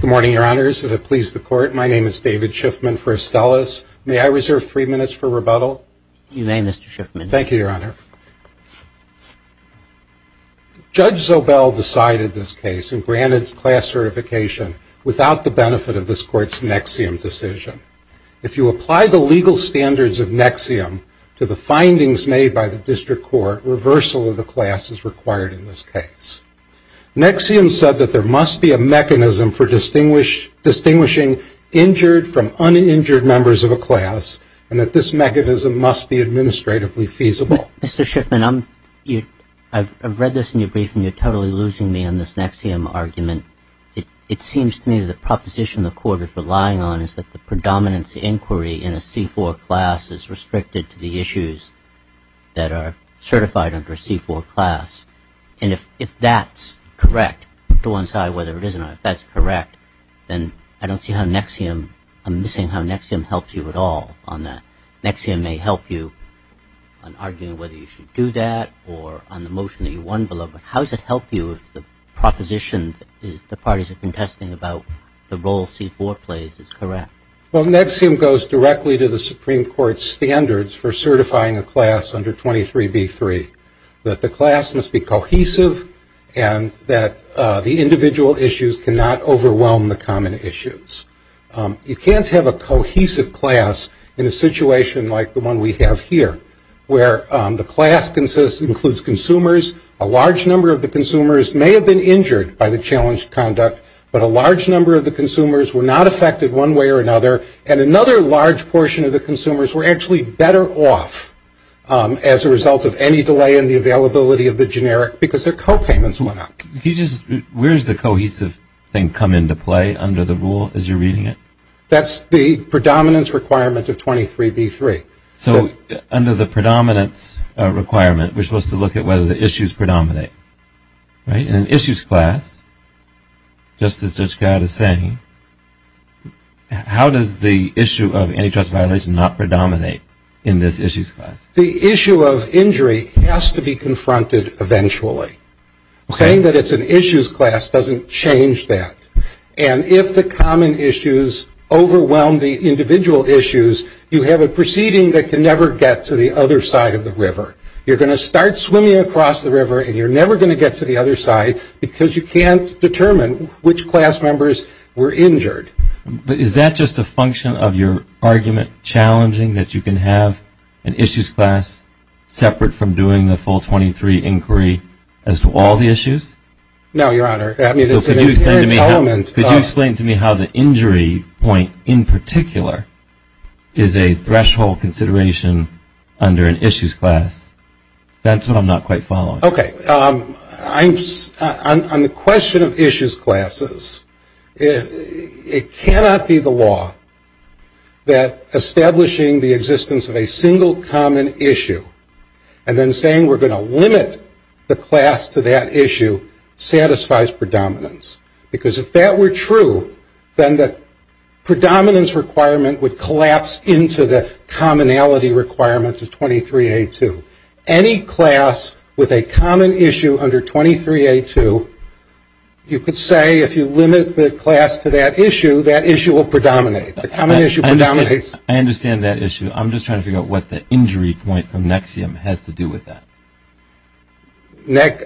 Good morning, Your Honors. As it pleases the Court, my name is David Shiffman for Astellas. May I reserve three minutes for rebuttal? You may, Mr. Shiffman. Thank you, Your Honor. Judge Zobel decided this case and granted class certification without the benefit of this Court's NXIVM decision. If you apply the legal standards of NXIVM to the findings made by the District Court, reversal of the class is required in this case. NXIVM said that there must be a mechanism for distinguishing injured from uninjured members of a class, and that this mechanism must be administratively feasible. Mr. Shiffman, I've read this in your briefing. You're totally losing me on this NXIVM argument. It seems to me that the proposition the Court is relying on is that the predominance inquiry in a C-4 class is restricted to the issues that are certified under a C-4 class. And if that's correct, put to one side whether it is or not, if that's correct, then I don't see how NXIVM, I'm missing how NXIVM helps you at all on that. NXIVM may help you on arguing whether you should do that or on the motion that you won below, but how does it help you if the proposition the parties are contesting about the role C-4 plays is correct? Well, NXIVM goes directly to the Supreme Court's standards for certifying a class under 23b3, that the class must be cohesive and that the individual issues cannot overwhelm the common issues. You can't have a cohesive class in a situation like the one we have here, where the class includes consumers. A large number of the consumers may have been injured by the challenged conduct, but a large number of the consumers were not affected one way or another, and another large portion of the consumers were actually better off as a result of any delay in the availability of the generic, because their copayments went up. Where does the cohesive thing come into play under the rule as you're reading it? That's the predominance requirement of 23b3. So under the predominance requirement, we're supposed to look at whether the issues predominate, right? In an issues class, just as Judge Gadd is saying, how does the issue of antitrust violation not predominate in this issues class? The issue of injury has to be confronted eventually. Saying that it's an issues class doesn't change that. And if the common issues overwhelm the individual issues, you have a proceeding that can never get to the other side of the river. You're going to start swimming across the river, you're not going to get to the other side, because you can't determine which class members were injured. Is that just a function of your argument challenging, that you can have an issues class separate from doing the full 23 inquiry as to all the issues? No, Your Honor, I mean, it's an inherent element of Could you explain to me how the injury point in particular is a threshold consideration under an issues class? That's what I'm not quite following. Okay. On the question of issues classes, it cannot be the law that establishing the existence of a single common issue and then saying we're going to limit the class to that issue satisfies predominance. Because if that were true, then the predominance requirement would collapse into the commonality requirement of 23A2. Any class with a common issue under 23A2, you could say if you limit the class to that issue, that issue will predominate. The common issue predominates. I understand that issue. I'm just trying to figure out what the injury point from NXIVM has to do with that.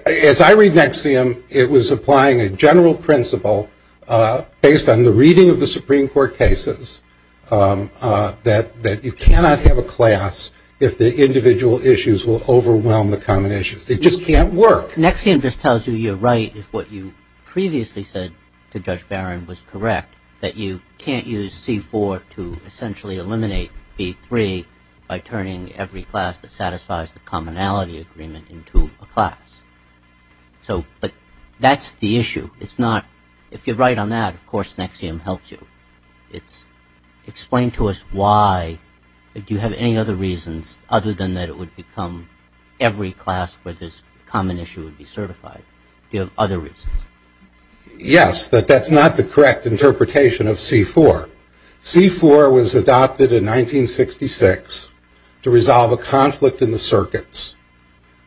As I read NXIVM, it was applying a general principle based on the reading of the Supreme Court cases that you cannot have a class if the individual issues will overwhelm the common issues. It just can't work. NXIVM just tells you you're right if what you previously said to Judge Barron was correct, that you can't use C4 to essentially eliminate B3 by turning every class that satisfies the commonality agreement into a class. But that's the issue. If you're right on that, of course NXIVM helps you. Explain to us why. Do you have any other reasons other than that it would become every class where this common issue would be certified? Do you have other reasons? Yes, but that's not the correct interpretation of C4. C4 was adopted in 1966 to resolve a conflict in the circuits.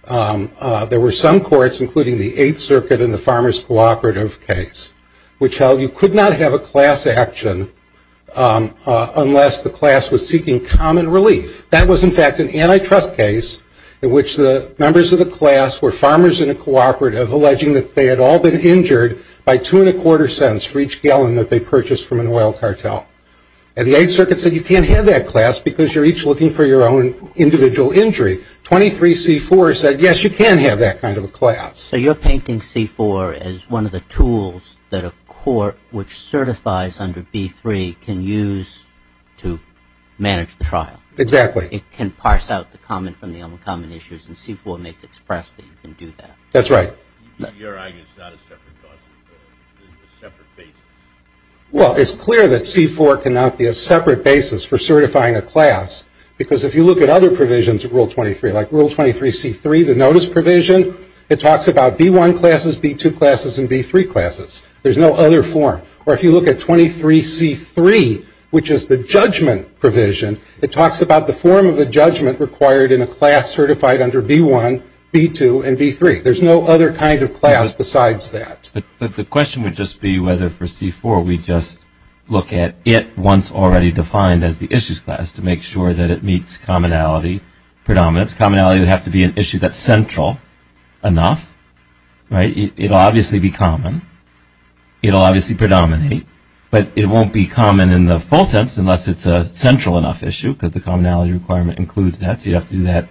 There were some courts, including the Eighth Circuit and the Supreme Court, that did not have a class action unless the class was seeking common relief. That was in fact an antitrust case in which the members of the class were farmers in a cooperative alleging that they had all been injured by two and a quarter cents for each gallon that they purchased from an oil cartel. And the Eighth Circuit said you can't have that class because you're each looking for your own individual injury. 23C4 said yes, you can have that kind of a class. So you're painting C4 as one of the tools that a court which certifies under B3 can use to manage the trial. Exactly. It can parse out the common from the uncommon issues and C4 makes it express that you can do that. That's right. In your argument, it's not a separate clause. It's a separate basis. Well, it's clear that C4 cannot be a separate basis for certifying a class because if you look at other provisions of Rule 23, like Rule 23C3, the notice provision, it talks about B1 classes, B2 classes, and B3 classes. There's no other form. Or if you look at 23C3, which is the judgment provision, it talks about the form of a judgment required in a class certified under B1, B2, and B3. There's no other kind of class besides that. But the question would just be whether for C4 we just look at it once already defined as the issues class to make sure that it meets commonality predominance. Commonality would have to be an issue that's central enough. It'll obviously be common. It'll obviously predominate. But it won't be common in the full sense unless it's a central enough issue because the commonality requirement includes that. So you'd have to do that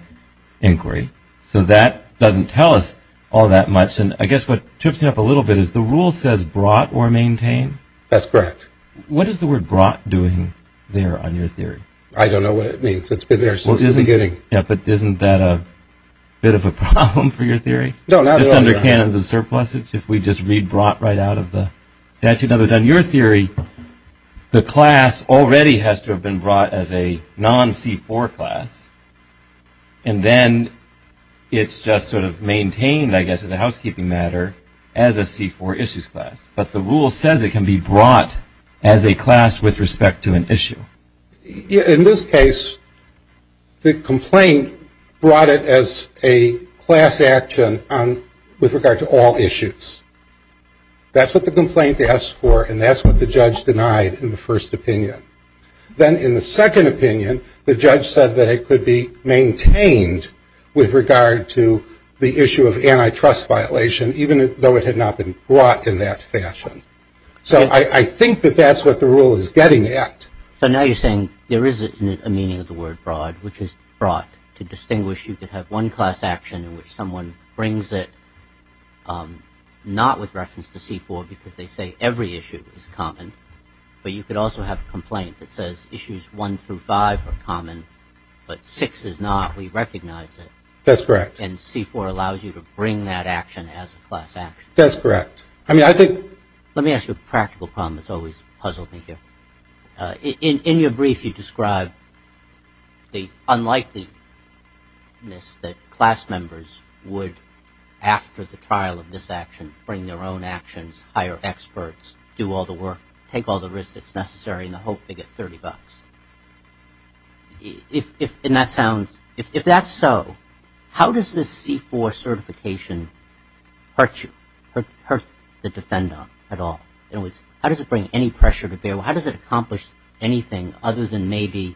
inquiry. So that doesn't tell us all that much. And I guess what trips me up a little bit is the rule says brought or maintain. That's correct. What is the word brought doing there on your theory? I don't know what it means. It's been there since the beginning. Yeah, but isn't that a bit of a problem for your theory? No, not at all, yeah. Just under canons of surplusage, if we just read brought right out of the statute of limits. On your theory, the class already has to have been brought as a non-C4 class. And then it's just sort of maintained, I guess, as a housekeeping matter as a C4 issues class. But the rule says it can be brought as a class with respect to an issue. In this case, the complaint brought it as a class action with regard to all issues. That's what the complaint asked for. And that's what the judge denied in the first opinion. Then in the second opinion, the judge said that it could be maintained with regard to the issue of antitrust violation, even though it had not been brought in that fashion. So I think that that's what the rule is getting at. So now you're saying there is a meaning of the word brought, which is brought to distinguish you could have one class action in which someone brings it not with reference to C4 because they say every issue is common. But you could also have a complaint that says issues one through five are common, but six is not. We recognize it. That's correct. And C4 allows you to bring that action as a class action. That's correct. I mean, I think... Let me ask you a practical problem that's always puzzled me here. In your brief, you describe the unlikeliness that class members would, after the trial of this action, bring their own actions, hire experts, do all the work, take all the risks that's necessary in the hope they get $30. If that's so, how does this C4 certification hurt you, hurt the defendant at all? In other words, how does it bring any pressure to bear? How does it accomplish anything other than maybe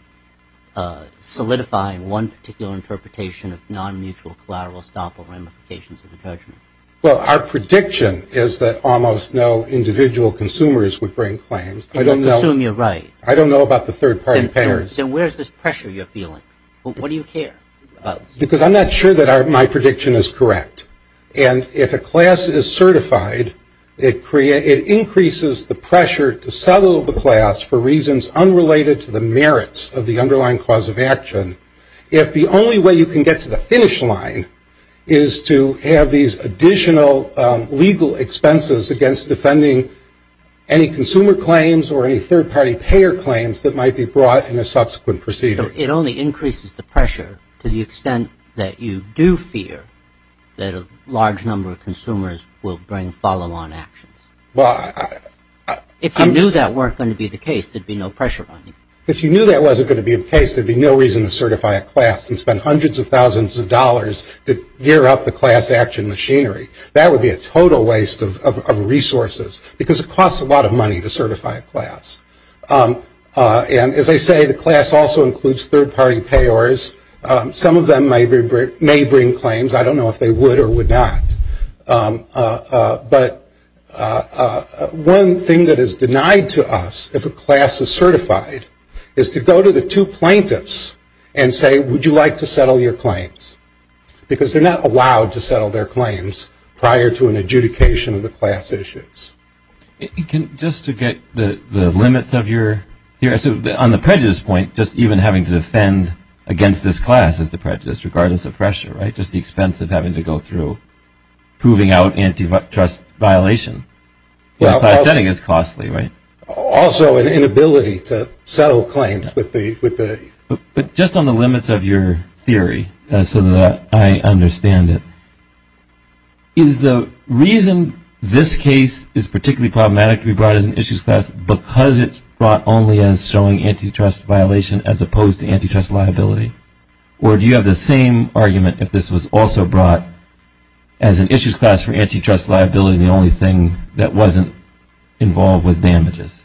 solidify one particular interpretation of non-mutual collateral estoppel ramifications of the judgment? Well, our prediction is that almost no individual consumers would bring claims. I don't know... I assume you're right. I don't know about the third-party payers. Then where's this pressure you're feeling? What do you care about? Because I'm not sure that my prediction is correct. And if a class is certified, it increases the pressure to settle the class for reasons unrelated to the merits of the underlying cause of action. If the only way you can get to the finish line is to have these additional legal expenses against defending any consumer claims or any third-party payer claims that might be brought in a subsequent proceeding. It only increases the pressure to the extent that you do fear that a large number of consumers will bring follow-on actions. Well, I... If you knew that weren't going to be the case, there'd be no pressure on you. If you knew that wasn't going to be the case, there'd be no reason to certify a class and that'd be a total waste of resources because it costs a lot of money to certify a class. And as I say, the class also includes third-party payers. Some of them may bring claims. I don't know if they would or would not. But one thing that is denied to us if a class is certified is to go to the two plaintiffs and say, would you like to settle your claims? Because they're not allowed to settle their claims prior to an adjudication of the class issues. Just to get the limits of your theory, so on the prejudice point, just even having to defend against this class is the prejudice, regardless of pressure, right? Just the expense of having to go through proving out antitrust violation in a class setting is costly, right? Also an inability to settle claims with the... But just on the limits of your theory, so that I understand it, is the reason this case is particularly problematic to be brought as an issues class because it's brought only as showing antitrust violation as opposed to antitrust liability? Or do you have the same argument if this was also brought as an issues class for antitrust liability and the only thing that wasn't involved was damages?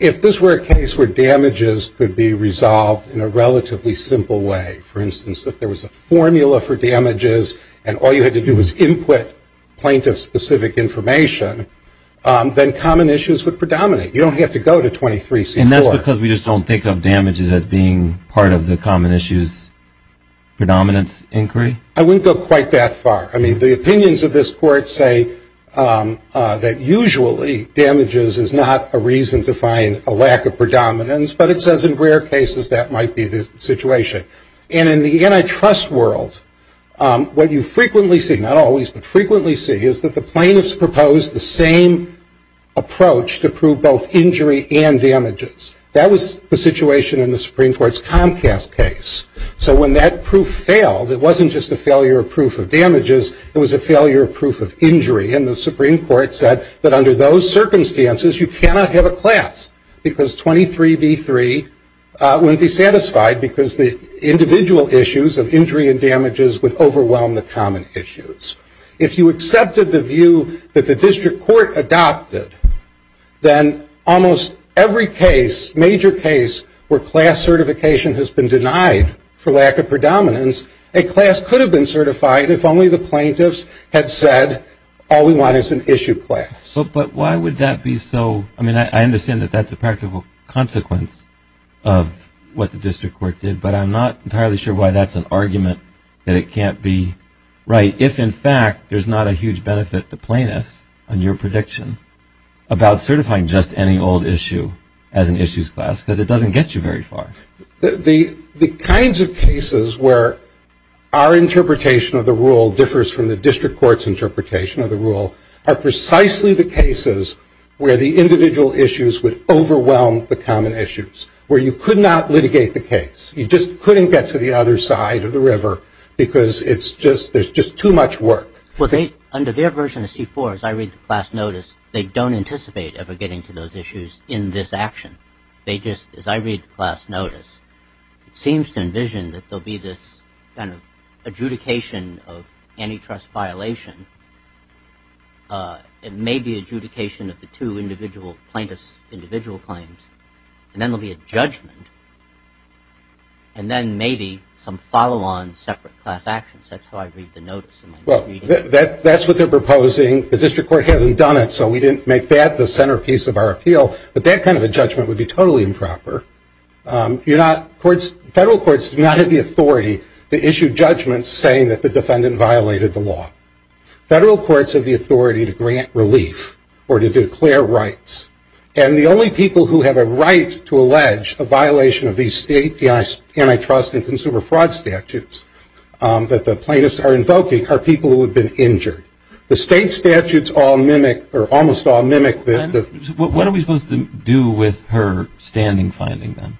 If this were a case where damages could be resolved in a relatively simple way, for instance, if there was a formula for damages and all you had to do was input plaintiff-specific information, then common issues would predominate. You don't have to go to 23C4. And that's because we just don't think of damages as being part of the common issues predominance inquiry? I wouldn't go quite that far. I mean, the opinions of this court say that usually damages is not a reason to find a lack of predominance, but it says in rare cases that might be the situation. And in the antitrust world, what you frequently see, not always, but frequently see is that the plaintiffs propose the same approach to prove both injury and damages. That was the situation in the Supreme Court's Comcast case. So when that proof failed, it wasn't just a failure of proof of damages, it was a failure of proof of injury. And the Supreme Court said that under those circumstances, you cannot have a class because 23B3 wouldn't be satisfied because the individual issues of injury and damages would overwhelm the common issues. If you accepted the view that the district court adopted, then almost every case, major case, where class certification has been denied for lack of predominance, a class could have been certified if only the plaintiffs had said, all we want is an issue class. But why would that be so, I mean, I understand that that's a practical consequence of what the district court did, but I'm not entirely sure why that's an argument that it can't be right if, in fact, there's not a huge benefit to plaintiffs, on your prediction, about certifying just any old issue as an issues class, because it doesn't get you very far. The kinds of cases where our interpretation of the rule differs from the district court's interpretation of the rule are precisely the cases where the individual issues would overwhelm the common issues, where you could not litigate the case. You just couldn't get to the other side of the river because it's just, there's just too much work. Well, they, under their version of C4, as I read the class notice, they don't anticipate ever getting to those issues in this action. They just, as I read the class notice, it seems to envision that there'll be this kind of adjudication of antitrust violation, it may be adjudication of the two individual plaintiffs, individual claims, and then there'll be a judgment, and then maybe some follow-on separate class actions. That's how I read the notice. That's what they're proposing, the district court hasn't done it, so we didn't make that, the centerpiece of our appeal, but that kind of a judgment would be totally improper. Federal courts do not have the authority to issue judgments saying that the defendant violated the law. Federal courts have the authority to grant relief or to declare rights, and the only people who have a right to allege a violation of these state antitrust and consumer fraud statutes that the plaintiffs are invoking are people who have been injured. The state statutes all mimic, or almost all mimic the... What are we supposed to do with her standing finding, then,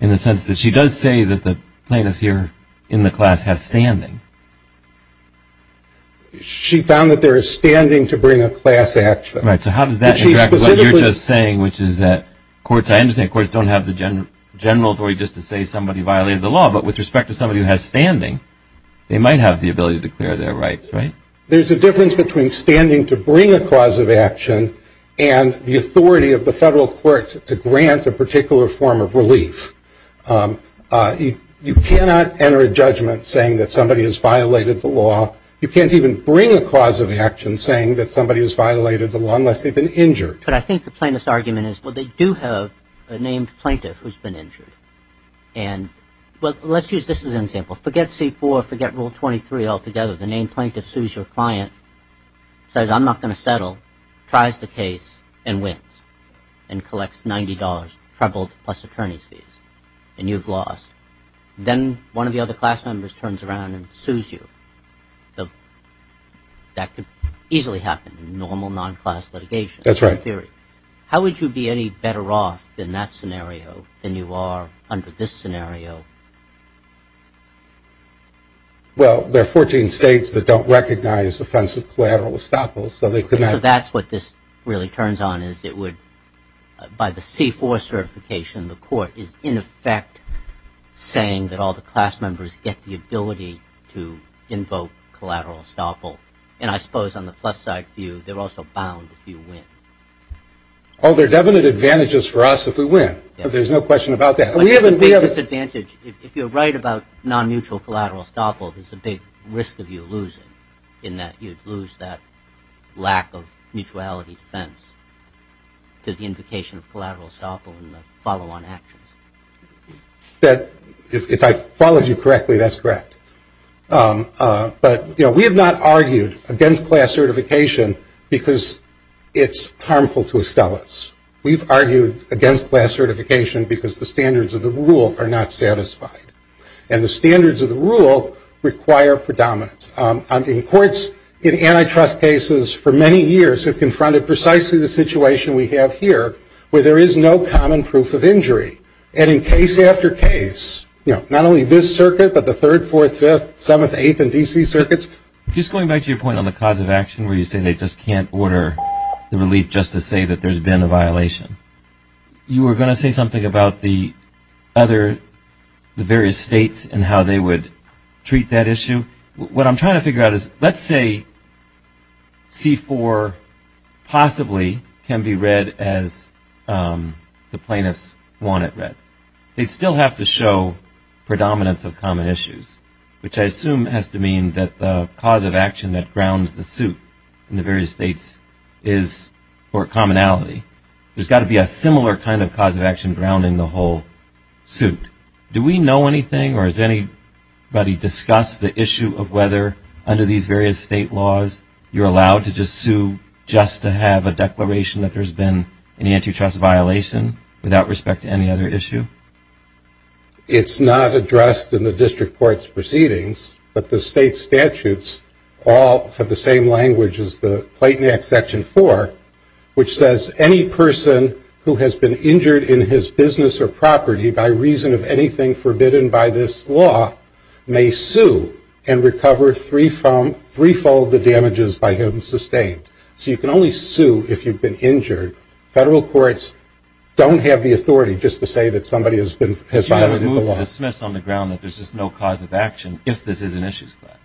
in the sense that she does say that the plaintiff here in the class has standing? She found that there is standing to bring a class action. Right, so how does that interact with what you're just saying, which is that courts, I understand courts don't have the general authority just to say somebody violated the law, but with respect to somebody who has standing, they might have the ability to declare their rights, right? There's a difference between standing to bring a cause of action and the authority of the federal court to grant a particular form of relief. You cannot enter a judgment saying that somebody has violated the law. You can't even bring a cause of action saying that somebody has violated the law unless they've been injured. But I think the plaintiff's argument is, well, they do have a named plaintiff who's been injured. And, well, let's use this as an example. Forget C-4. Forget Rule 23 altogether. So the named plaintiff sues your client, says, I'm not going to settle, tries the case, and wins, and collects $90, troubled, plus attorney's fees. And you've lost. Then one of the other class members turns around and sues you. That could easily happen in normal, non-class litigation. That's right. Period. How would you be any better off in that scenario than you are under this scenario? Well, there are 14 states that don't recognize offensive collateral estoppels. So they could not. So that's what this really turns on is it would, by the C-4 certification, the court is, in effect, saying that all the class members get the ability to invoke collateral estoppel. And I suppose on the plus side view, they're also bound if you win. Oh, there are definite advantages for us if we win. There's no question about that. But there's a big disadvantage. If you're right about non-mutual collateral estoppel, there's a big risk of you losing in that you'd lose that lack of mutuality defense to the invocation of collateral estoppel in the follow-on actions. If I followed you correctly, that's correct. But we have not argued against class certification because it's harmful to Estellas. We've argued against class certification because the standards of the rule are not satisfied. And the standards of the rule require predominance. In courts, in antitrust cases, for many years, have confronted precisely the situation we have here where there is no common proof of injury. And in case after case, not only this circuit, but the Third, Fourth, Fifth, Seventh, Eighth, and D.C. circuits. Just going back to your point on the cause of action where you say they just can't order the relief just to say that there's been a violation. You were going to say something about the various states and how they would treat that issue. What I'm trying to figure out is, let's say C-4 possibly can be read as the plaintiffs want it read. They'd still have to show predominance of common issues, which I assume has to mean that the cause of action that grounds the suit in the various states is for commonality. There's got to be a similar kind of cause of action grounding the whole suit. Do we know anything or has anybody discussed the issue of whether under these various state laws you're allowed to just sue just to have a declaration that there's been an antitrust violation without respect to any other issue? It's not addressed in the district court's proceedings, but the state statutes all have the same language as the Clayton Act Section 4, which says any person who has been injured in his business or property by reason of anything forbidden by this law may sue and recover threefold the damages by him sustained. So you can only sue if you've been injured. Federal courts don't have the authority just to say that somebody has violated the law. Do you have a move to dismiss on the ground that there's just no cause of action if this is an issues class?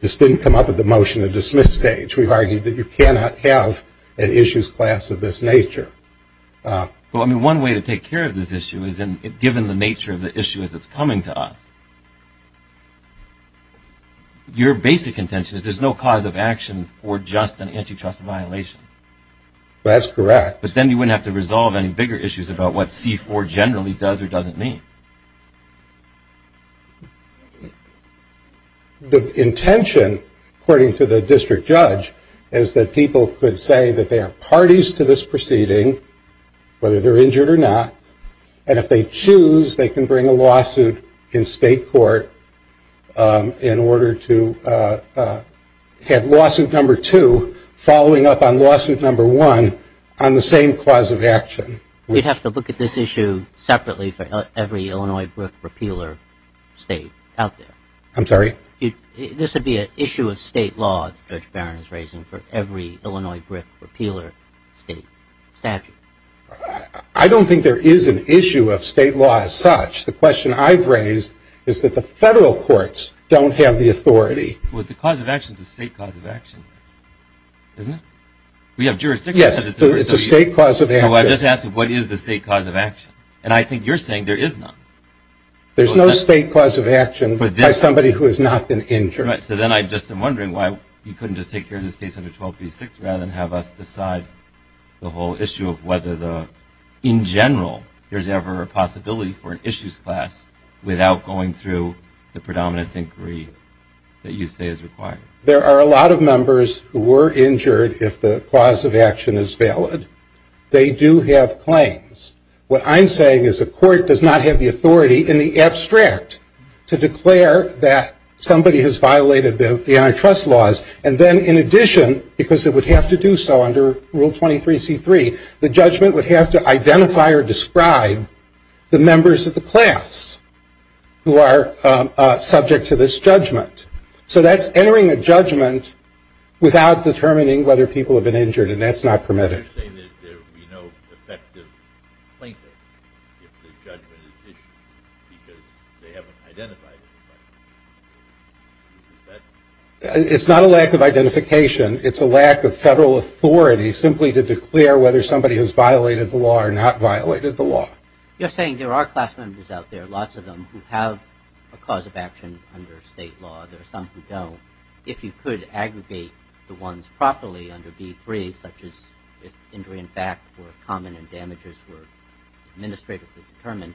This didn't come up at the motion to dismiss stage. We've argued that you cannot have an issues class of this nature. One way to take care of this issue is given the nature of the issue as it's coming to us. Your basic intention is there's no cause of action for just an antitrust violation. That's correct. But then you wouldn't have to resolve any bigger issues about what C-4 generally does or doesn't mean. The intention, according to the district judge, is that people could say that they are parties to this proceeding, whether they're injured or not, and if they choose, they can bring a lawsuit in state court in order to have lawsuit number two following up on lawsuit number one on the same cause of action. You'd have to look at this issue separately for every Illinois brick repealer state out there. I'm sorry? This would be an issue of state law that Judge Barron is raising for every Illinois brick repealer state statute. I don't think there is an issue of state law as such. The question I've raised is that the federal courts don't have the authority. Well, the cause of action is a state cause of action, isn't it? We have jurisdiction. Yes. It's a state cause of action. Well, I just asked, what is the state cause of action? And I think you're saying there is none. There's no state cause of action by somebody who has not been injured. Right. So then I just am wondering why you couldn't just take care of this case under 1236 rather than have us decide the whole issue of whether, in general, there's ever a possibility for issues class without going through the predominance inquiry that you say is required. There are a lot of members who were injured if the cause of action is valid. They do have claims. What I'm saying is the court does not have the authority in the abstract to declare that somebody has violated the antitrust laws. And then in addition, because it would have to do so under Rule 23C3, the judgment would have to identify or describe the members of the class who are subject to this judgment. So that's entering a judgment without determining whether people have been injured, and that's not permitted. You're saying that there would be no effective plaintiff if the judgment is issued because they haven't identified anybody. Is that? It's not a lack of identification. It's a lack of federal authority simply to declare whether somebody has violated the law or not violated the law. You're saying there are class members out there, lots of them, who have a cause of action under state law. There are some who don't. If you could aggregate the ones properly under B3, such as if injury in fact were common and damages were administratively determined,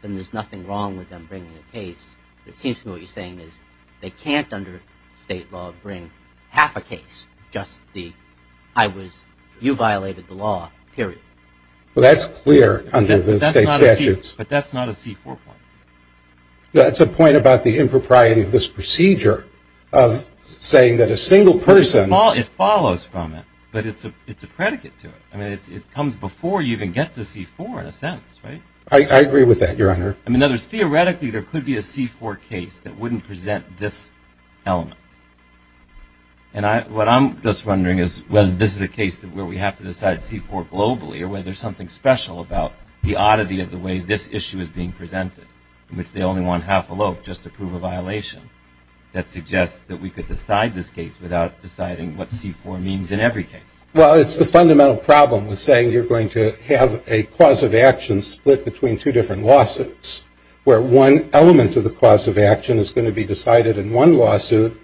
then there's nothing wrong with them bringing a case. It seems to me what you're saying is they can't, under state law, bring half a case, just the, I was, you violated the law, period. Well, that's clear under the state statutes. But that's not a C4 point. That's a point about the impropriety of this procedure of saying that a single person... It follows from it, but it's a predicate to it. I mean, it comes before you even get to C4 in a sense, right? I agree with that, Your Honor. I mean, in other words, theoretically, there could be a C4 case that wouldn't present this element. And what I'm just wondering is whether this is a case where we have to decide C4 globally or whether there's something special about the oddity of the way this issue is being presented, in which they only want half a loaf just to prove a violation. That suggests that we could decide this case without deciding what C4 means in every case. Well, it's the fundamental problem with saying you're going to have a cause of action split between two different lawsuits, where one element of the cause of action is going to be decided in one lawsuit,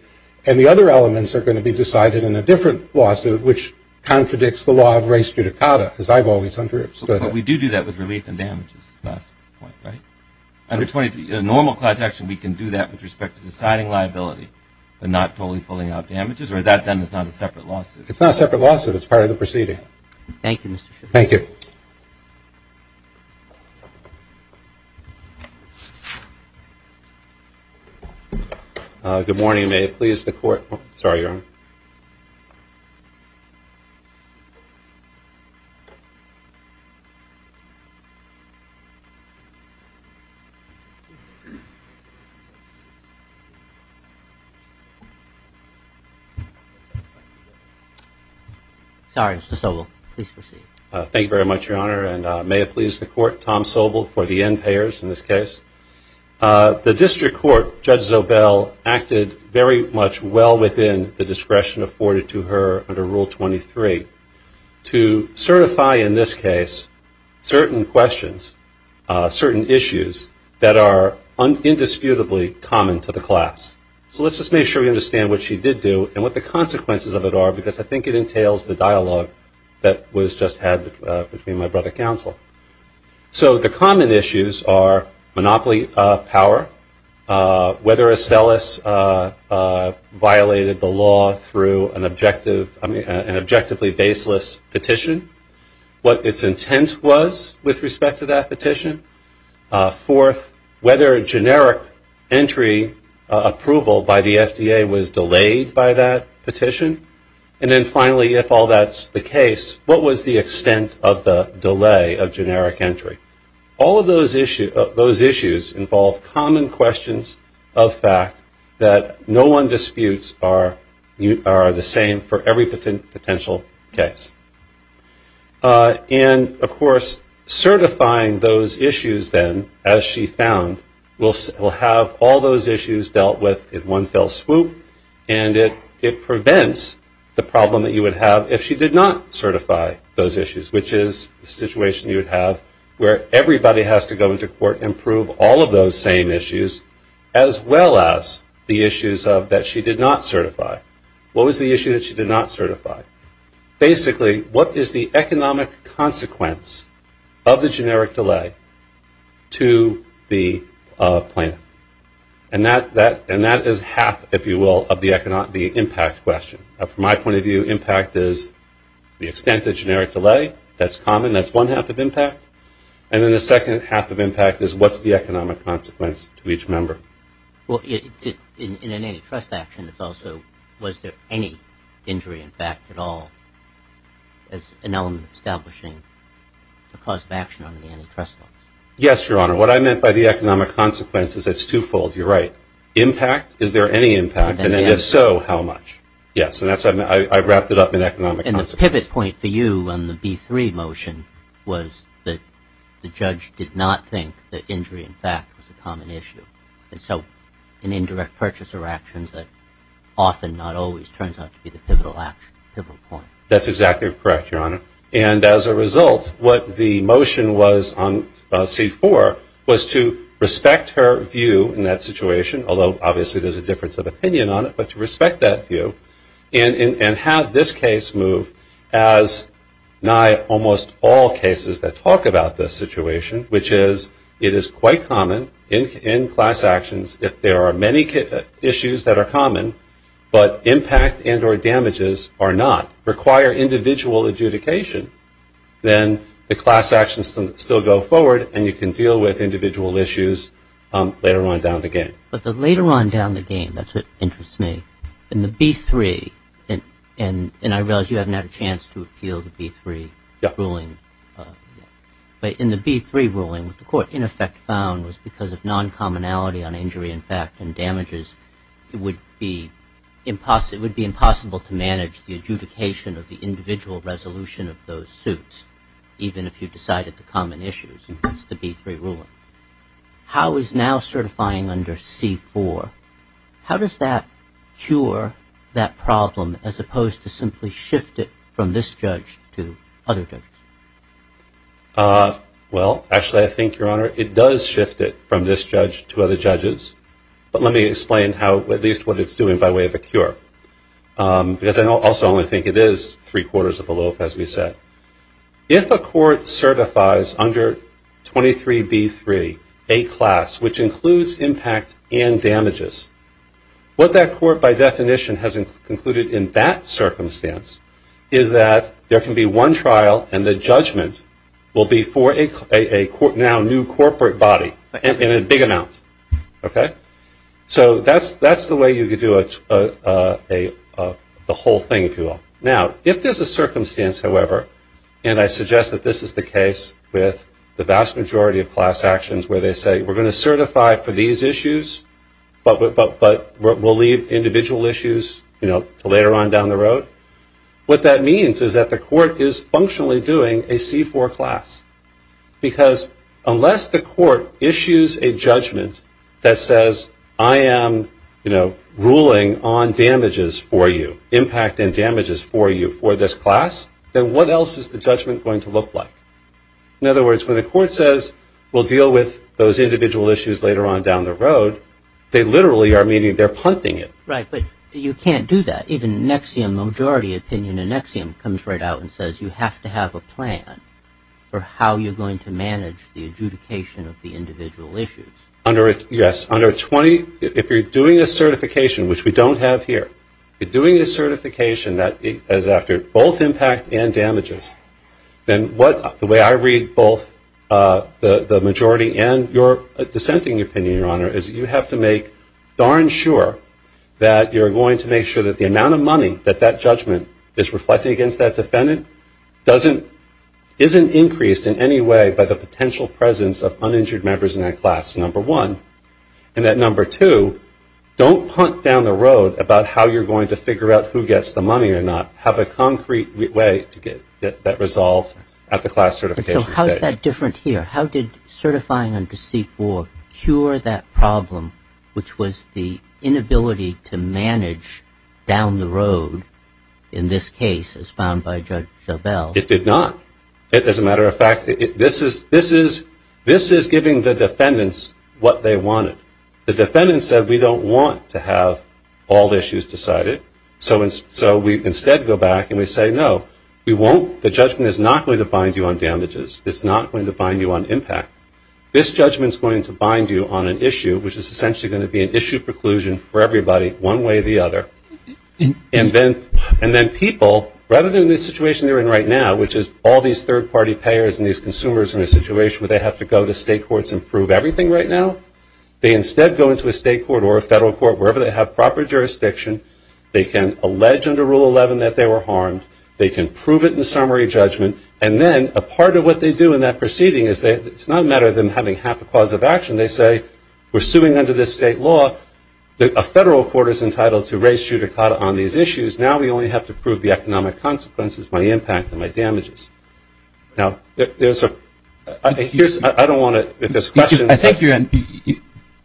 and the other elements are going to be decided in a different lawsuit, which contradicts the law of res judicata, as I've always understood it. But we do do that with relief and damages, right? Under normal cause action, we can do that with respect to deciding liability, but not totally pulling out damages, or that then is not a separate lawsuit? It's not a separate lawsuit. It's part of the proceeding. Thank you, Mr. Schiff. Thank you. Thank you very much, Your Honor. And may it please the court, Tom Sobel, for the end payers in this case. The district court, Judge Zobel, acted very much well within the discretion afforded to her under Rule 23 to certify, in this case, certain questions, certain issues that are indisputably common to the class. So let's just make sure we understand what she did do and what the consequences of it are, because I think it entails the dialogue that was just had between my brother counsel. So the common issues are monopoly power, whether Estellas violated the law through an objectively baseless petition, what its intent was with respect to that petition, fourth, whether generic entry approval by the FDA was delayed by that petition, and then finally, if all that's the case, what was the extent of the delay of generic entry? All of those issues involve common questions of fact that no one disputes are the same for every potential case. And of course, certifying those issues then, as she found, will have all those issues dealt with in one fell swoop, and it prevents the problem that you would have if she did not certify those issues, which is the situation you would have where everybody has to go into court and prove all of those same issues, as well as the issues that she did not certify. What was the issue that she did not certify? Basically, what is the economic consequence of the generic delay to the plaintiff? And that is half, if you will, of the impact question. From my point of view, impact is the extent of generic delay. That's common. That's one half of impact. And then the second half of impact is what's the economic consequence to each member? Well, in an antitrust action, it's also was there any injury in fact at all as an element of establishing the cause of action under the antitrust laws? Yes, Your Honor. What I meant by the economic consequence is it's twofold. You're right. Impact. Is there any impact? And if so, how much? Yes. And that's what I meant. I wrapped it up in economic consequence. And the pivot point for you on the B3 motion was that the judge did not think that injury in fact was a common issue. And so in indirect purchaser actions, that often not always turns out to be the pivotal point. That's exactly correct, Your Honor. And as a result, what the motion was on C4 was to respect her view in that situation, although obviously there's a difference of opinion on it, but to respect that view and have this case move as nigh almost all cases that talk about this situation, which is it is quite common in class actions if there are many issues that are common, but impact and or damages are not, require individual adjudication, then the class actions still go forward and you can deal with individual issues later on down the game. But the later on down the game, that's what interests me, in the B3, and I realize you haven't had a chance to appeal the B3 ruling, but in the B3 ruling with the court, in effect found was because of non-commonality on injury in fact and damages, it would be impossible to manage the adjudication of the individual resolution of those suits, even if you decided the common issues, and that's the B3 ruling. How is now certifying under C4, how does that cure that problem as opposed to simply shift it from this judge to other judges? Well, actually I think, Your Honor, it does shift it from this judge to other judges, but let me explain at least what it's doing by way of a cure, because I also only think it is three quarters of a loaf, as we said. If a court certifies under 23B3 a class which includes impact and damages, what that court by definition has concluded in that circumstance is that there can be one trial and the judgment will be for a now new corporate body in a big amount, okay? So that's the way you could do the whole thing, if you will. Now if there's a circumstance, however, and I suggest that this is the case with the vast majority of class actions where they say we're going to certify for these issues, but we'll leave individual issues to later on down the road, what that means is that the court is functionally doing a C4 class. Because unless the court issues a judgment that says I am ruling on damages for you, impact and damages for you for this class, then what else is the judgment going to look like? In other words, when the court says we'll deal with those individual issues later on Right, but you can't do that. Even an axiom, a majority opinion, an axiom comes right out and says you have to have a plan for how you're going to manage the adjudication of the individual issues. Under it, yes. Under 20, if you're doing a certification, which we don't have here, you're doing a certification that is after both impact and damages, then what, the way I read both the majority and Your dissenting opinion, Your Honor, is that you have to make darn sure that you're going to make sure that the amount of money that that judgment is reflecting against that defendant doesn't, isn't increased in any way by the potential presence of uninjured members in that class, number one. And that number two, don't punt down the road about how you're going to figure out who gets the money or not. Have a concrete way to get that resolved at the class certification stage. So how is that different here? How did certifying under C-4 cure that problem, which was the inability to manage down the road in this case, as found by Judge Jovell? It did not. As a matter of fact, this is giving the defendants what they wanted. The defendants said, we don't want to have all the issues decided, so we instead go back and we say, no, we won't, the judgment is not going to bind you on damages. It's not going to bind you on impact. This judgment is going to bind you on an issue, which is essentially going to be an issue preclusion for everybody, one way or the other. And then people, rather than the situation they're in right now, which is all these third party payers and these consumers are in a situation where they have to go to state courts and prove everything right now, they instead go into a state court or a federal court, wherever they have proper jurisdiction. They can allege under Rule 11 that they were harmed. They can prove it in summary judgment. And then a part of what they do in that proceeding is that it's not a matter of them having half a cause of action. They say, we're suing under this state law. A federal court is entitled to raise judicata on these issues. Now we only have to prove the economic consequences, my impact, and my damages. Now there's a, I don't want to, if there's questions. I think you're on.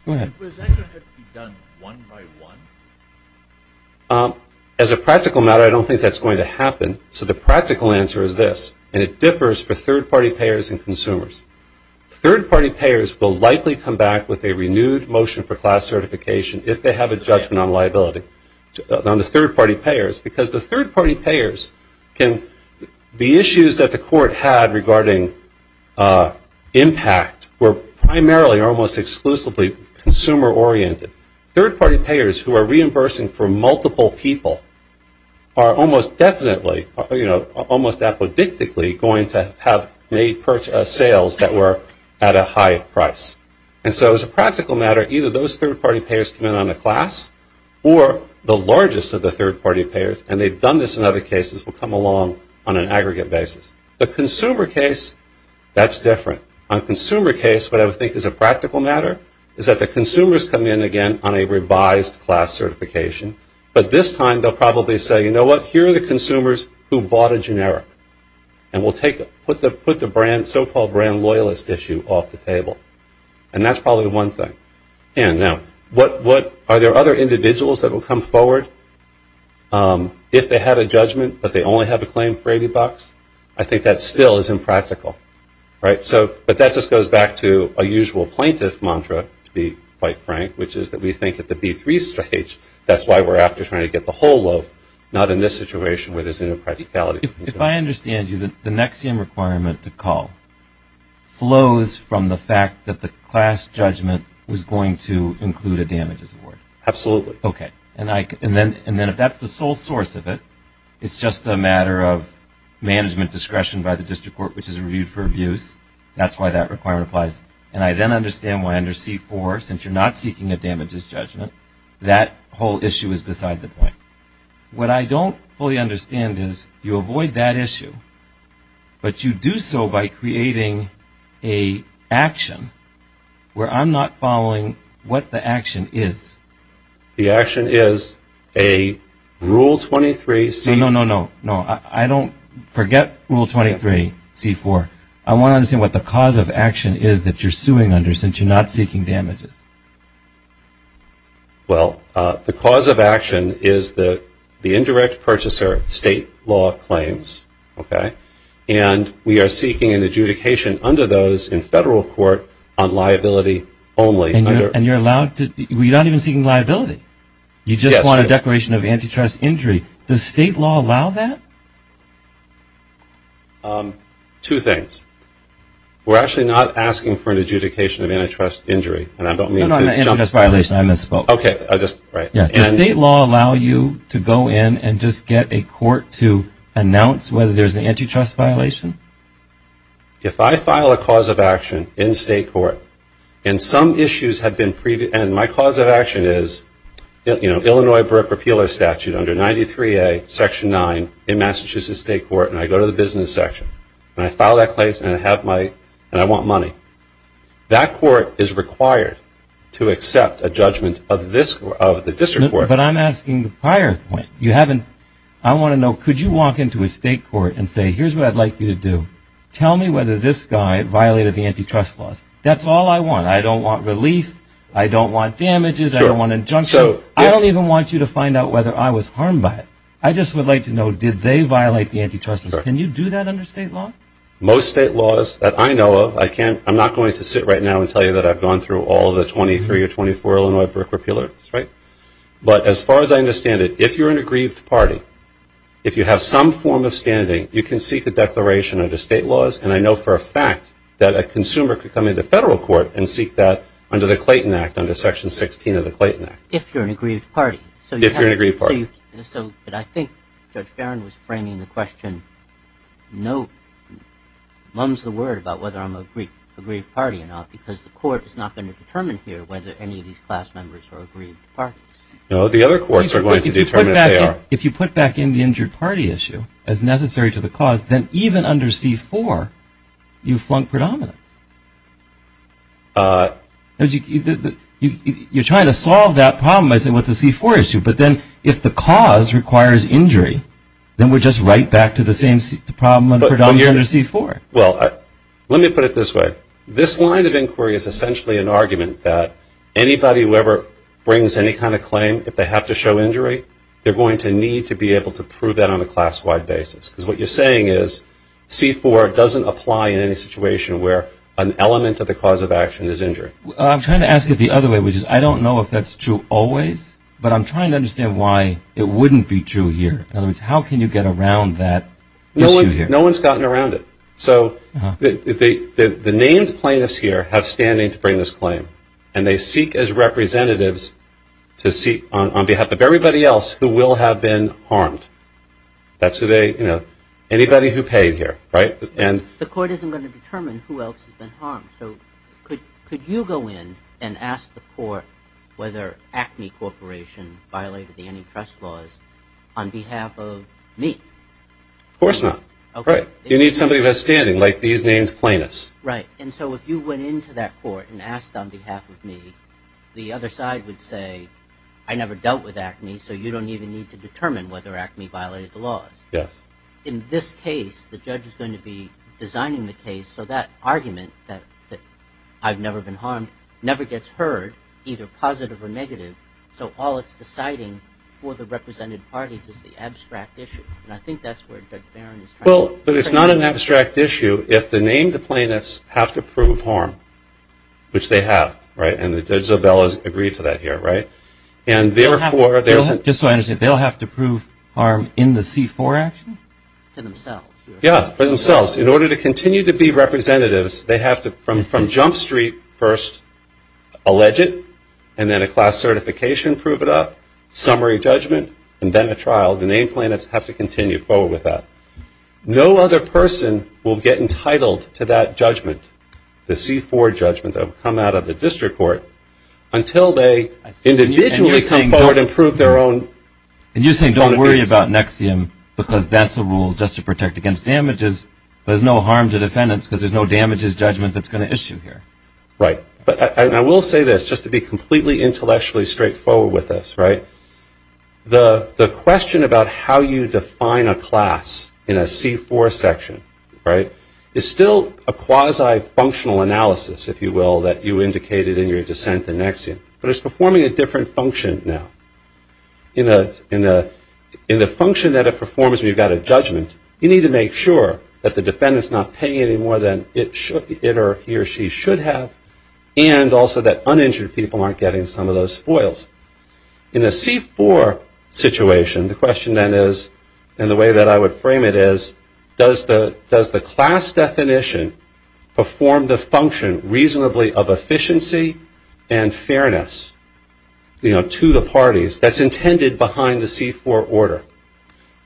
Go ahead. Was that going to have to be done one by one? As a practical matter, I don't think that's going to happen. So the practical answer is this, and it differs for third party payers and consumers. Third party payers will likely come back with a renewed motion for class certification if they have a judgment on liability, on the third party payers. Because the third party payers can, the issues that the court had regarding impact were primarily almost exclusively consumer oriented. Third party payers who are reimbursing for multiple people are almost definitely, almost apodictically going to have made sales that were at a higher price. And so as a practical matter, either those third party payers come in on a class, or the largest of the third party payers, and they've done this in other cases, will come along on an aggregate basis. The consumer case, that's different. On consumer case, what I would think is a practical matter is that the consumers come in again on a revised class certification, but this time they'll probably say, you know what, here are the consumers who bought a generic, and we'll take, put the brand, so called brand loyalist issue off the table. And that's probably one thing. And now, what, are there other individuals that will come forward if they had a judgment but they only have a claim for 80 bucks? I think that still is impractical, right? But that just goes back to a usual plaintiff mantra, to be quite frank, which is that we think at the B3 stage, that's why we're after trying to get the whole loaf, not in this situation where there's an impracticality. If I understand you, the NXIVM requirement to call flows from the fact that the class judgment was going to include a damages award. Absolutely. OK. And then if that's the sole source of it, it's just a matter of management discretion by the district court, which is reviewed for abuse. That's why that requirement applies. And I then understand why under C4, since you're not seeking a damages judgment, that whole issue is beside the point. What I don't fully understand is, you avoid that issue, but you do so by creating a action where I'm not following what the action is. The action is a Rule 23C. No, no, no, no, no. I don't forget Rule 23C4. I want to understand what the cause of action is that you're suing under, since you're not seeking damages. Well, the cause of action is that the indirect purchaser, state law claims, OK? And we are seeking an adjudication under those in federal court on liability only. And you're allowed to, you're not even seeking liability. You just want a declaration of antitrust injury. Does state law allow that? Two things. We're actually not asking for an adjudication of antitrust injury. And I don't mean to jump... No, no, antitrust violation. I misspoke. OK. I just, right. Does state law allow you to go in and just get a court to announce whether there's an antitrust violation? If I file a cause of action in state court, and some issues have been, and my cause of action is 23A, Section 9, in Massachusetts state court, and I go to the business section, and I file that claim, and I have my, and I want money, that court is required to accept a judgment of this, of the district court. But I'm asking the prior point. You haven't, I want to know, could you walk into a state court and say, here's what I'd like you to do. Tell me whether this guy violated the antitrust laws. That's all I want. I don't want relief. I don't want damages. I don't want injunctions. So I don't even want you to find out whether I was harmed by it. I just would like to know, did they violate the antitrust laws? Can you do that under state law? Most state laws that I know of, I can't, I'm not going to sit right now and tell you that I've gone through all the 23 or 24 Illinois brick repealers, right? But as far as I understand it, if you're an aggrieved party, if you have some form of standing, you can seek a declaration under state laws. And I know for a fact that a consumer could come into federal court and seek that under the Clayton Act, under Section 16 of the Clayton Act. If you're an aggrieved party. If you're an aggrieved party. So, but I think Judge Barron was framing the question, no, mums the word about whether I'm an aggrieved party or not, because the court is not going to determine here whether any of these class members are aggrieved parties. No, the other courts are going to determine if they are. If you put back in the injured party issue, as necessary to the cause, then even under C-4, you flunk predominance. You're trying to solve that problem by saying, well, it's a C-4 issue. But then if the cause requires injury, then we're just right back to the same problem under C-4. Well, let me put it this way. This line of inquiry is essentially an argument that anybody who ever brings any kind of claim, if they have to show injury, they're going to need to be able to prove that on a class-wide basis. Because what you're saying is, C-4 doesn't apply in any situation where an element of the cause of action is injury. I'm trying to ask it the other way, which is, I don't know if that's true always, but I'm trying to understand why it wouldn't be true here. In other words, how can you get around that issue here? No one's gotten around it. So the named plaintiffs here have standing to bring this claim. And they seek, as representatives, to seek on behalf of everybody else who will have been harmed. That's who they, you know, anybody who paid here, right? The court isn't going to determine who else has been harmed. So could you go in and ask the court whether Acme Corporation violated the antitrust laws on behalf of me? Of course not. You need somebody who has standing, like these named plaintiffs. Right. And so if you went into that court and asked on behalf of me, the other side would say, I never dealt with Acme, so you don't even need to determine whether Acme violated the laws. Yes. In this case, the judge is going to be designing the case so that argument that I've never been harmed never gets heard, either positive or negative. So all it's deciding for the represented parties is the abstract issue. And I think that's where Judge Barron is trying to... Well, but it's not an abstract issue if the named plaintiffs have to prove harm, which they have, right? And Judge Zobel has agreed to that here, right? Just so I understand, they'll have to prove harm in the C-4 action? For themselves. Yeah, for themselves. In order to continue to be representatives, they have to, from Jump Street, first allege it, and then a class certification, prove it up, summary judgment, and then a trial. The named plaintiffs have to continue forward with that. No other person will get entitled to that judgment, the C-4 judgment that will come out of the district court, until they individually come forward and prove their own... And you're saying don't worry about NXIVM because that's a rule just to protect against damages, but there's no harm to defendants because there's no damages judgment that's going to issue here. Right. But I will say this, just to be completely intellectually straightforward with us, right? The question about how you define a class in a C-4 section, right, is still a quasi-functional rule that you indicated in your dissent in NXIVM, but it's performing a different function now. In the function that it performs when you've got a judgment, you need to make sure that the defendant's not paying any more than it or he or she should have, and also that uninjured people aren't getting some of those spoils. In a C-4 situation, the question then is, and the way that I would frame it is, does the class definition perform the function reasonably of efficiency and fairness to the parties that's intended behind the C-4 order?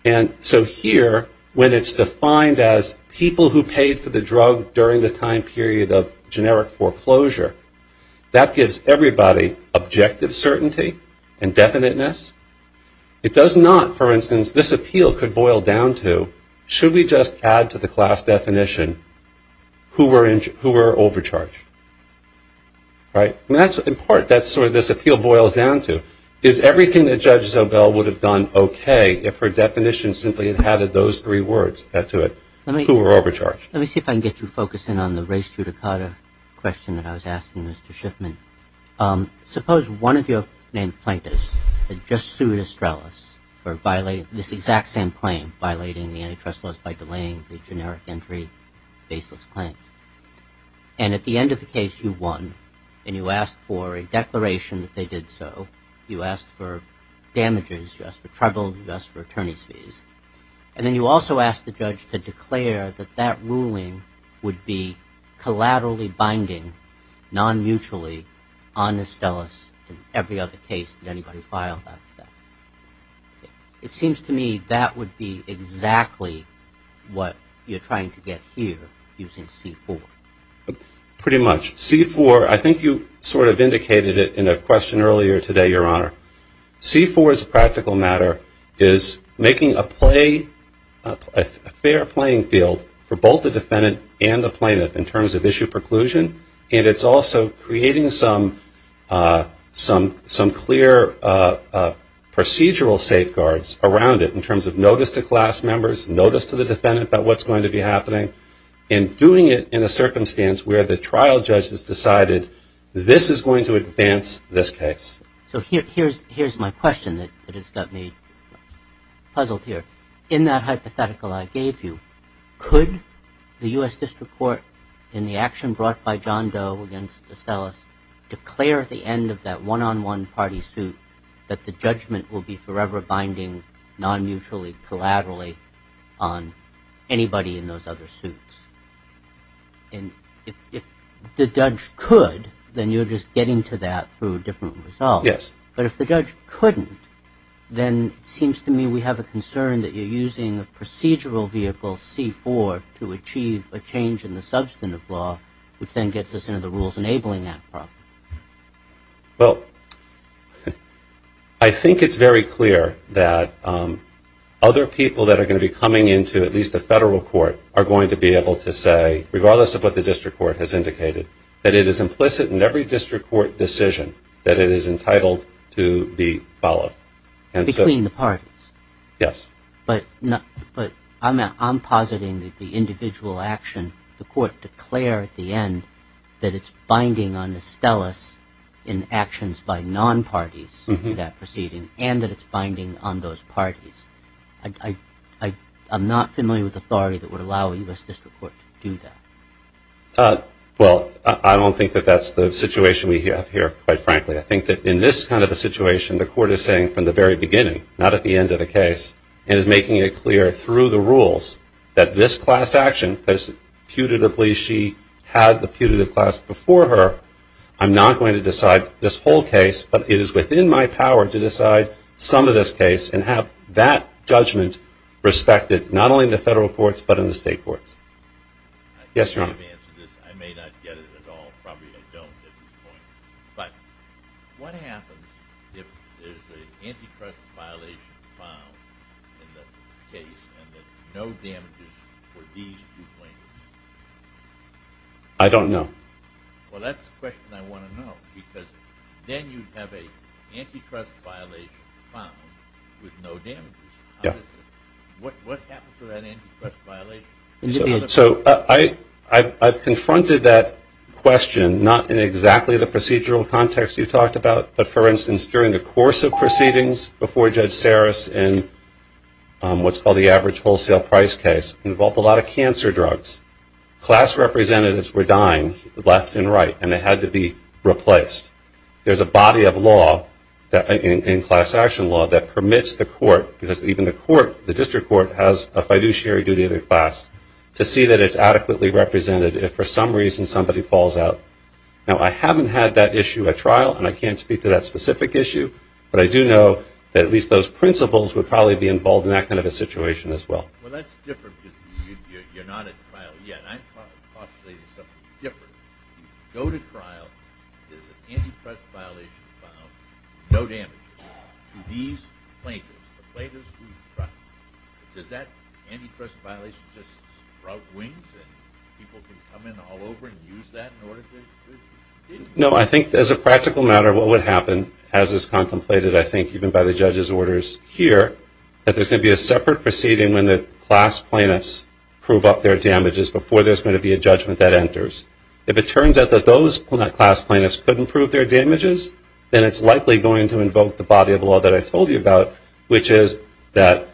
And so here, when it's defined as people who paid for the drug during the time period of generic foreclosure, that gives everybody objective certainty and definiteness. It does not, for instance, this appeal could boil down to, should we just add to the class definition who were overcharged, right? And that's what, in part, that's where this appeal boils down to. Is everything that Judge Zobel would have done okay if her definition simply had added those three words to it, who were overcharged? Let me see if I can get you focusing on the race judicata question that I was asking, Mr. Schiffman. Suppose one of your main plaintiffs had just sued Estrellas for violating this exact same claim, violating the antitrust laws by delaying the generic entry baseless claim. And at the end of the case, you won, and you asked for a declaration that they did so. You asked for damages. You asked for trouble. You asked for attorney's fees. And then you also asked the judge to declare that that ruling would be collaterally binding, non-mutually, on Estrellas and every other case that anybody filed after that. It seems to me that would be exactly what you're trying to get here using C-4. Pretty much. C-4, I think you sort of indicated it in a question earlier today, Your Honor. C-4 as a practical matter is making a fair playing field for both the defendant and the defendant, and it's also creating some clear procedural safeguards around it in terms of notice to class members, notice to the defendant about what's going to be happening, and doing it in a circumstance where the trial judge has decided this is going to advance this case. So here's my question that has got me puzzled here. In that hypothetical I gave you, could the U.S. District Court in the action brought by John Doe against Estrellas declare at the end of that one-on-one party suit that the judgment will be forever binding, non-mutually, collaterally on anybody in those other suits? And if the judge could, then you're just getting to that through a different result. Yes. But if the judge couldn't, then it seems to me we have a concern that you're using a procedural vehicle, C-4, to achieve a change in the substantive law, which then gets us into the rules enabling that problem. Well, I think it's very clear that other people that are going to be coming into at least the federal court are going to be able to say, regardless of what the district court has indicated, that it is entitled to be followed. Between the parties? Yes. But I'm positing that the individual action, the court declare at the end that it's binding on Estrellas in actions by non-parties in that proceeding and that it's binding on those parties. I'm not familiar with authority that would allow a U.S. District Court to do that. Well, I don't think that that's the situation we have here, quite frankly. I think that in this kind of a situation, the court is saying from the very beginning, not at the end of the case, and is making it clear through the rules that this class action, because putatively she had the putative class before her, I'm not going to decide this whole case, but it is within my power to decide some of this case and have that judgment respected, not only in the federal courts, but in the state courts. Yes, Your Honor. I may not get it at all, probably I don't at this point, but what happens if there's an antitrust violation found in the case and no damages for these two plaintiffs? I don't know. Well, that's the question I want to know, because then you'd have an antitrust violation found with no damages. Yeah. What happens to that antitrust violation? So I've confronted that question, not in exactly the procedural context you talked about, but for instance, during the course of proceedings before Judge Saris in what's called the average wholesale price case, involved a lot of cancer drugs. Class representatives were dying left and right, and they had to be replaced. There's a body of law in class action law that permits the court, because even the court, every court has a fiduciary duty in the class, to see that it's adequately represented if for some reason somebody falls out. Now, I haven't had that issue at trial, and I can't speak to that specific issue, but I do know that at least those principals would probably be involved in that kind of a situation as well. Well, that's different because you're not at trial yet. I'm populating something different. If you go to trial and there's an antitrust violation found with no damages to these plaintiffs, the plaintiffs who you trust, does that antitrust violation just sprout wings and people can come in all over and use that in order to get to prison? No, I think as a practical matter what would happen, as is contemplated I think even by the judge's orders here, that there's going to be a separate proceeding when the class plaintiffs prove up their damages before there's going to be a judgment that enters. If it turns out that those class plaintiffs couldn't prove their damages, then it's likely going to invoke the body of law that I told you about, which is that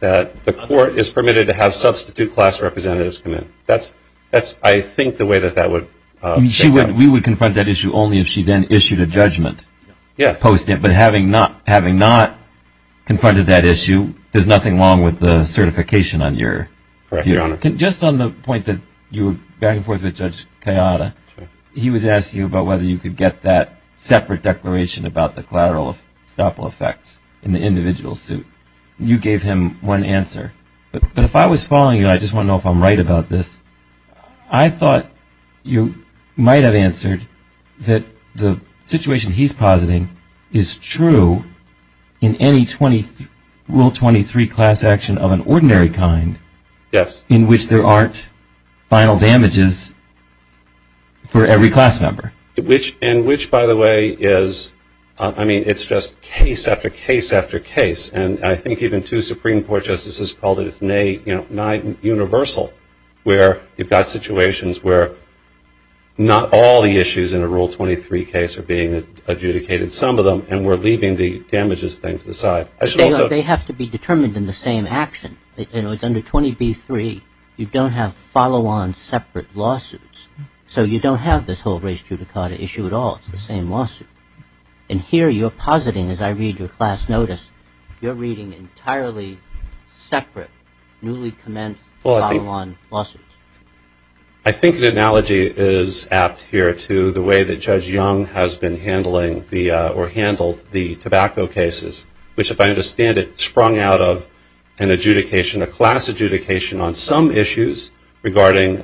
the court is permitted to have substitute class representatives come in. That's, I think, the way that that would take place. We would confront that issue only if she then issued a judgment. Yes. But having not confronted that issue, there's nothing wrong with the certification on your view. Correct, Your Honor. Just on the point that you were back and forth with Judge Kayada, he was asking you about whether you could get that separate declaration about the collateral of estoppel effects in the individual suit. You gave him one answer. But if I was following you, and I just want to know if I'm right about this, I thought you might have answered that the situation he's positing is true in any Rule 23 class action of an ordinary kind in which there aren't final damages for every class member. Which, by the way, is, I mean, it's just case after case after case. And I think even two Supreme Court justices called it nigh universal, where you've got situations where not all the issues in a Rule 23 case are being adjudicated, some of them, and we're leaving the damages thing to the side. They have to be determined in the same action. You know, it's under 20b-3. You don't have follow-on separate lawsuits. So you don't have this whole race judicata issue at all. It's the same lawsuit. And here you're positing, as I read your class notice, you're reading entirely separate newly commenced follow-on lawsuits. I think an analogy is apt here to the way that Judge Young has been handling the or handled the tobacco cases, which, if I understand it, sprung out of an adjudication, a class adjudication on some issues regarding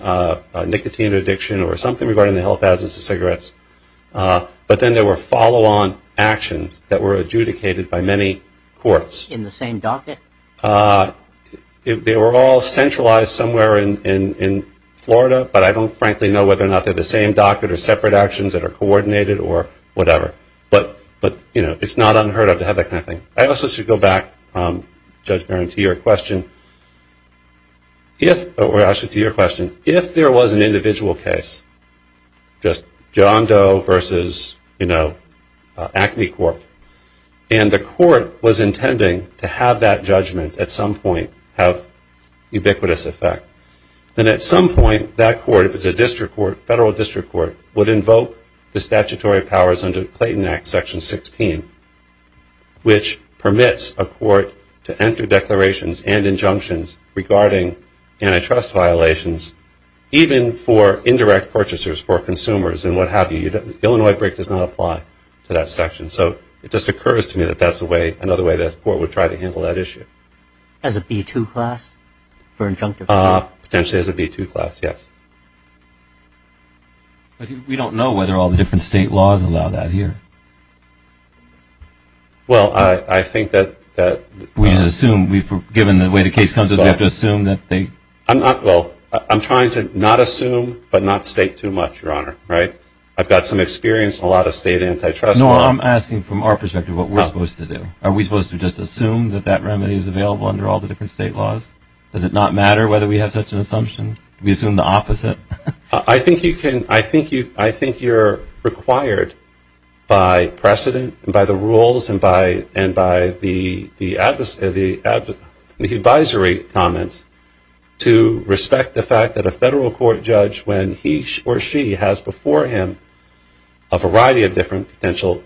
nicotine addiction or something regarding the health hazards of cigarettes. But then there were follow-on actions that were adjudicated by many courts. In the same docket? They were all centralized somewhere in Florida, but I don't frankly know whether or not they're the same docket or separate actions that are coordinated or whatever. But, you know, it's not unheard of to have that kind of thing. I also should go back, Judge Barron, to your question. If, or actually to your question, if there was an individual case, just John Doe versus, you know, Acme Court, and the court was intending to have that judgment at some point have ubiquitous effect, then at some point that court, if it's a district court, federal district court, would invoke the statutory powers under Clayton Act, Section 16, which permits a court to enter declarations and injunctions regarding antitrust violations, even for indirect purchasers, for consumers and what have you. The Illinois break does not apply to that section. So it just occurs to me that that's another way the court would try to handle that issue. As a B-2 class for injunctive? Potentially as a B-2 class, yes. But we don't know whether all the different state laws allow that here. Well, I think that... We just assume, given the way the case comes, we have to assume that they... Well, I'm trying to not assume, but not state too much, Your Honor, right? I've got some experience in a lot of state antitrust law. No, I'm asking from our perspective what we're supposed to do. Are we supposed to just assume that that remedy is available under all the different state laws? Does it not matter whether we have such an assumption? Do we assume the opposite? I think you're required by precedent and by the rules and by the advisory comments to respect the fact that a federal court judge, when he or she has before him a variety of different potential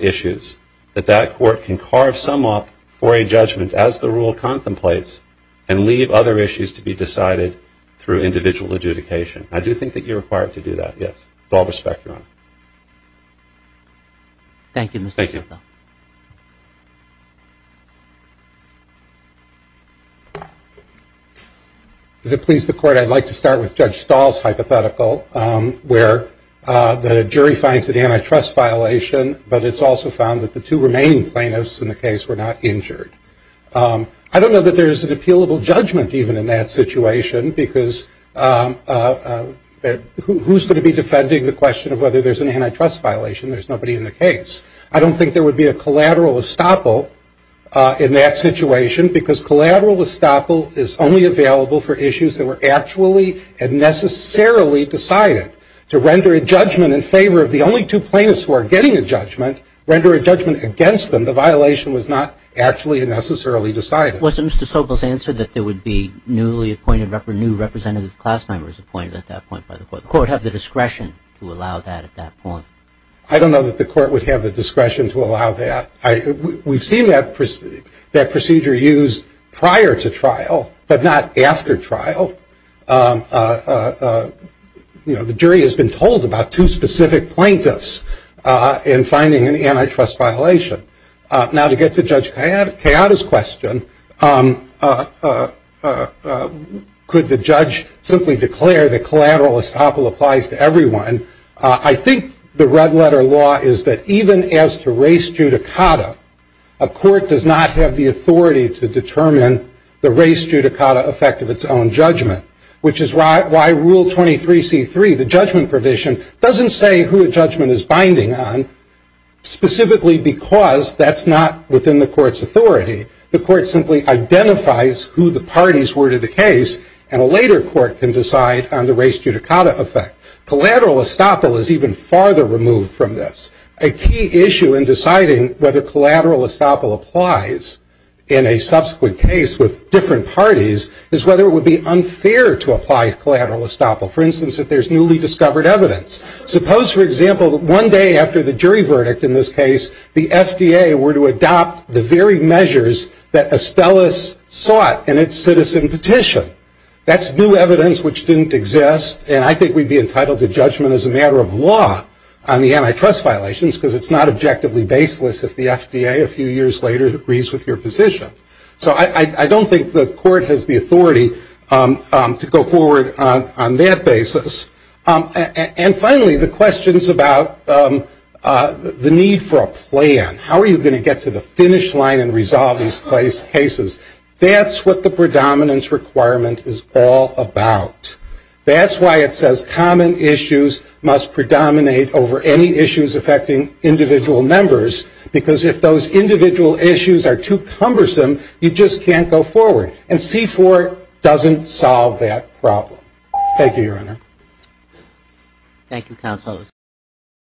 issues, that that court can carve some up for a judgment as the rule contemplates and leave other issues to be decided through individual adjudication. I do think that you're required to do that, yes. With all respect, Your Honor. Thank you, Mr. Stahl. Thank you. Is it please the court I'd like to start with Judge Stahl's hypothetical where the jury finds an antitrust violation, but it's also found that the two remaining plaintiffs in the case were not injured. I don't know that there's an appealable judgment even in that situation because who's going to be defending the question of whether there's an antitrust violation? There's nobody in the case. I don't think there would be a collateral estoppel in that situation because collateral estoppel is only available for issues that were actually and necessarily decided. To render a judgment in favor of the only two plaintiffs who are getting a judgment, render a judgment against them, the violation was not actually and necessarily decided. Wasn't Mr. Sobel's answer that there would be newly appointed or new representative class members appointed at that point by the court? Would the court have the discretion to allow that at that point? I don't know that the court would have the discretion to allow that. We've seen that procedure used prior to trial, but not after trial. The jury has been told about two specific plaintiffs in finding an antitrust violation. Now to get to Judge Kayada's question, could the judge simply declare that collateral estoppel applies to everyone? I think the red letter law is that even as to res judicata, a court does not have the authority to determine the res judicata effect of its own judgment, which is why Rule 23C3, the judgment provision, doesn't say who a judgment is binding on specifically because that's not within the court's authority. The court simply identifies who the parties were to the case, and a later court can decide on the res judicata effect. Collateral estoppel is even farther removed from this. A key issue in deciding whether collateral estoppel applies in a subsequent case with different parties is whether it would be unfair to apply collateral estoppel. For instance, if there's newly discovered evidence. Suppose, for example, that one day after the jury verdict in this case, the FDA were to adopt the very measures that Estellas sought in its citizen petition. That's new evidence which didn't exist, and I think we'd be entitled to judgment as a matter of law on the antitrust violations because it's not objectively baseless if the FDA a few years later agrees with your position. So I don't think the court has the authority to go forward on that basis. And finally, the questions about the need for a plan. How are you going to get to the finish line and resolve these cases? That's what the predominance requirement is all about. That's why it says common issues must predominate over any issues affecting individual members because if those individual issues are too cumbersome, you just can't go forward. And C-4 doesn't solve that problem. Thank you, Your Honor. Thank you, Counsel.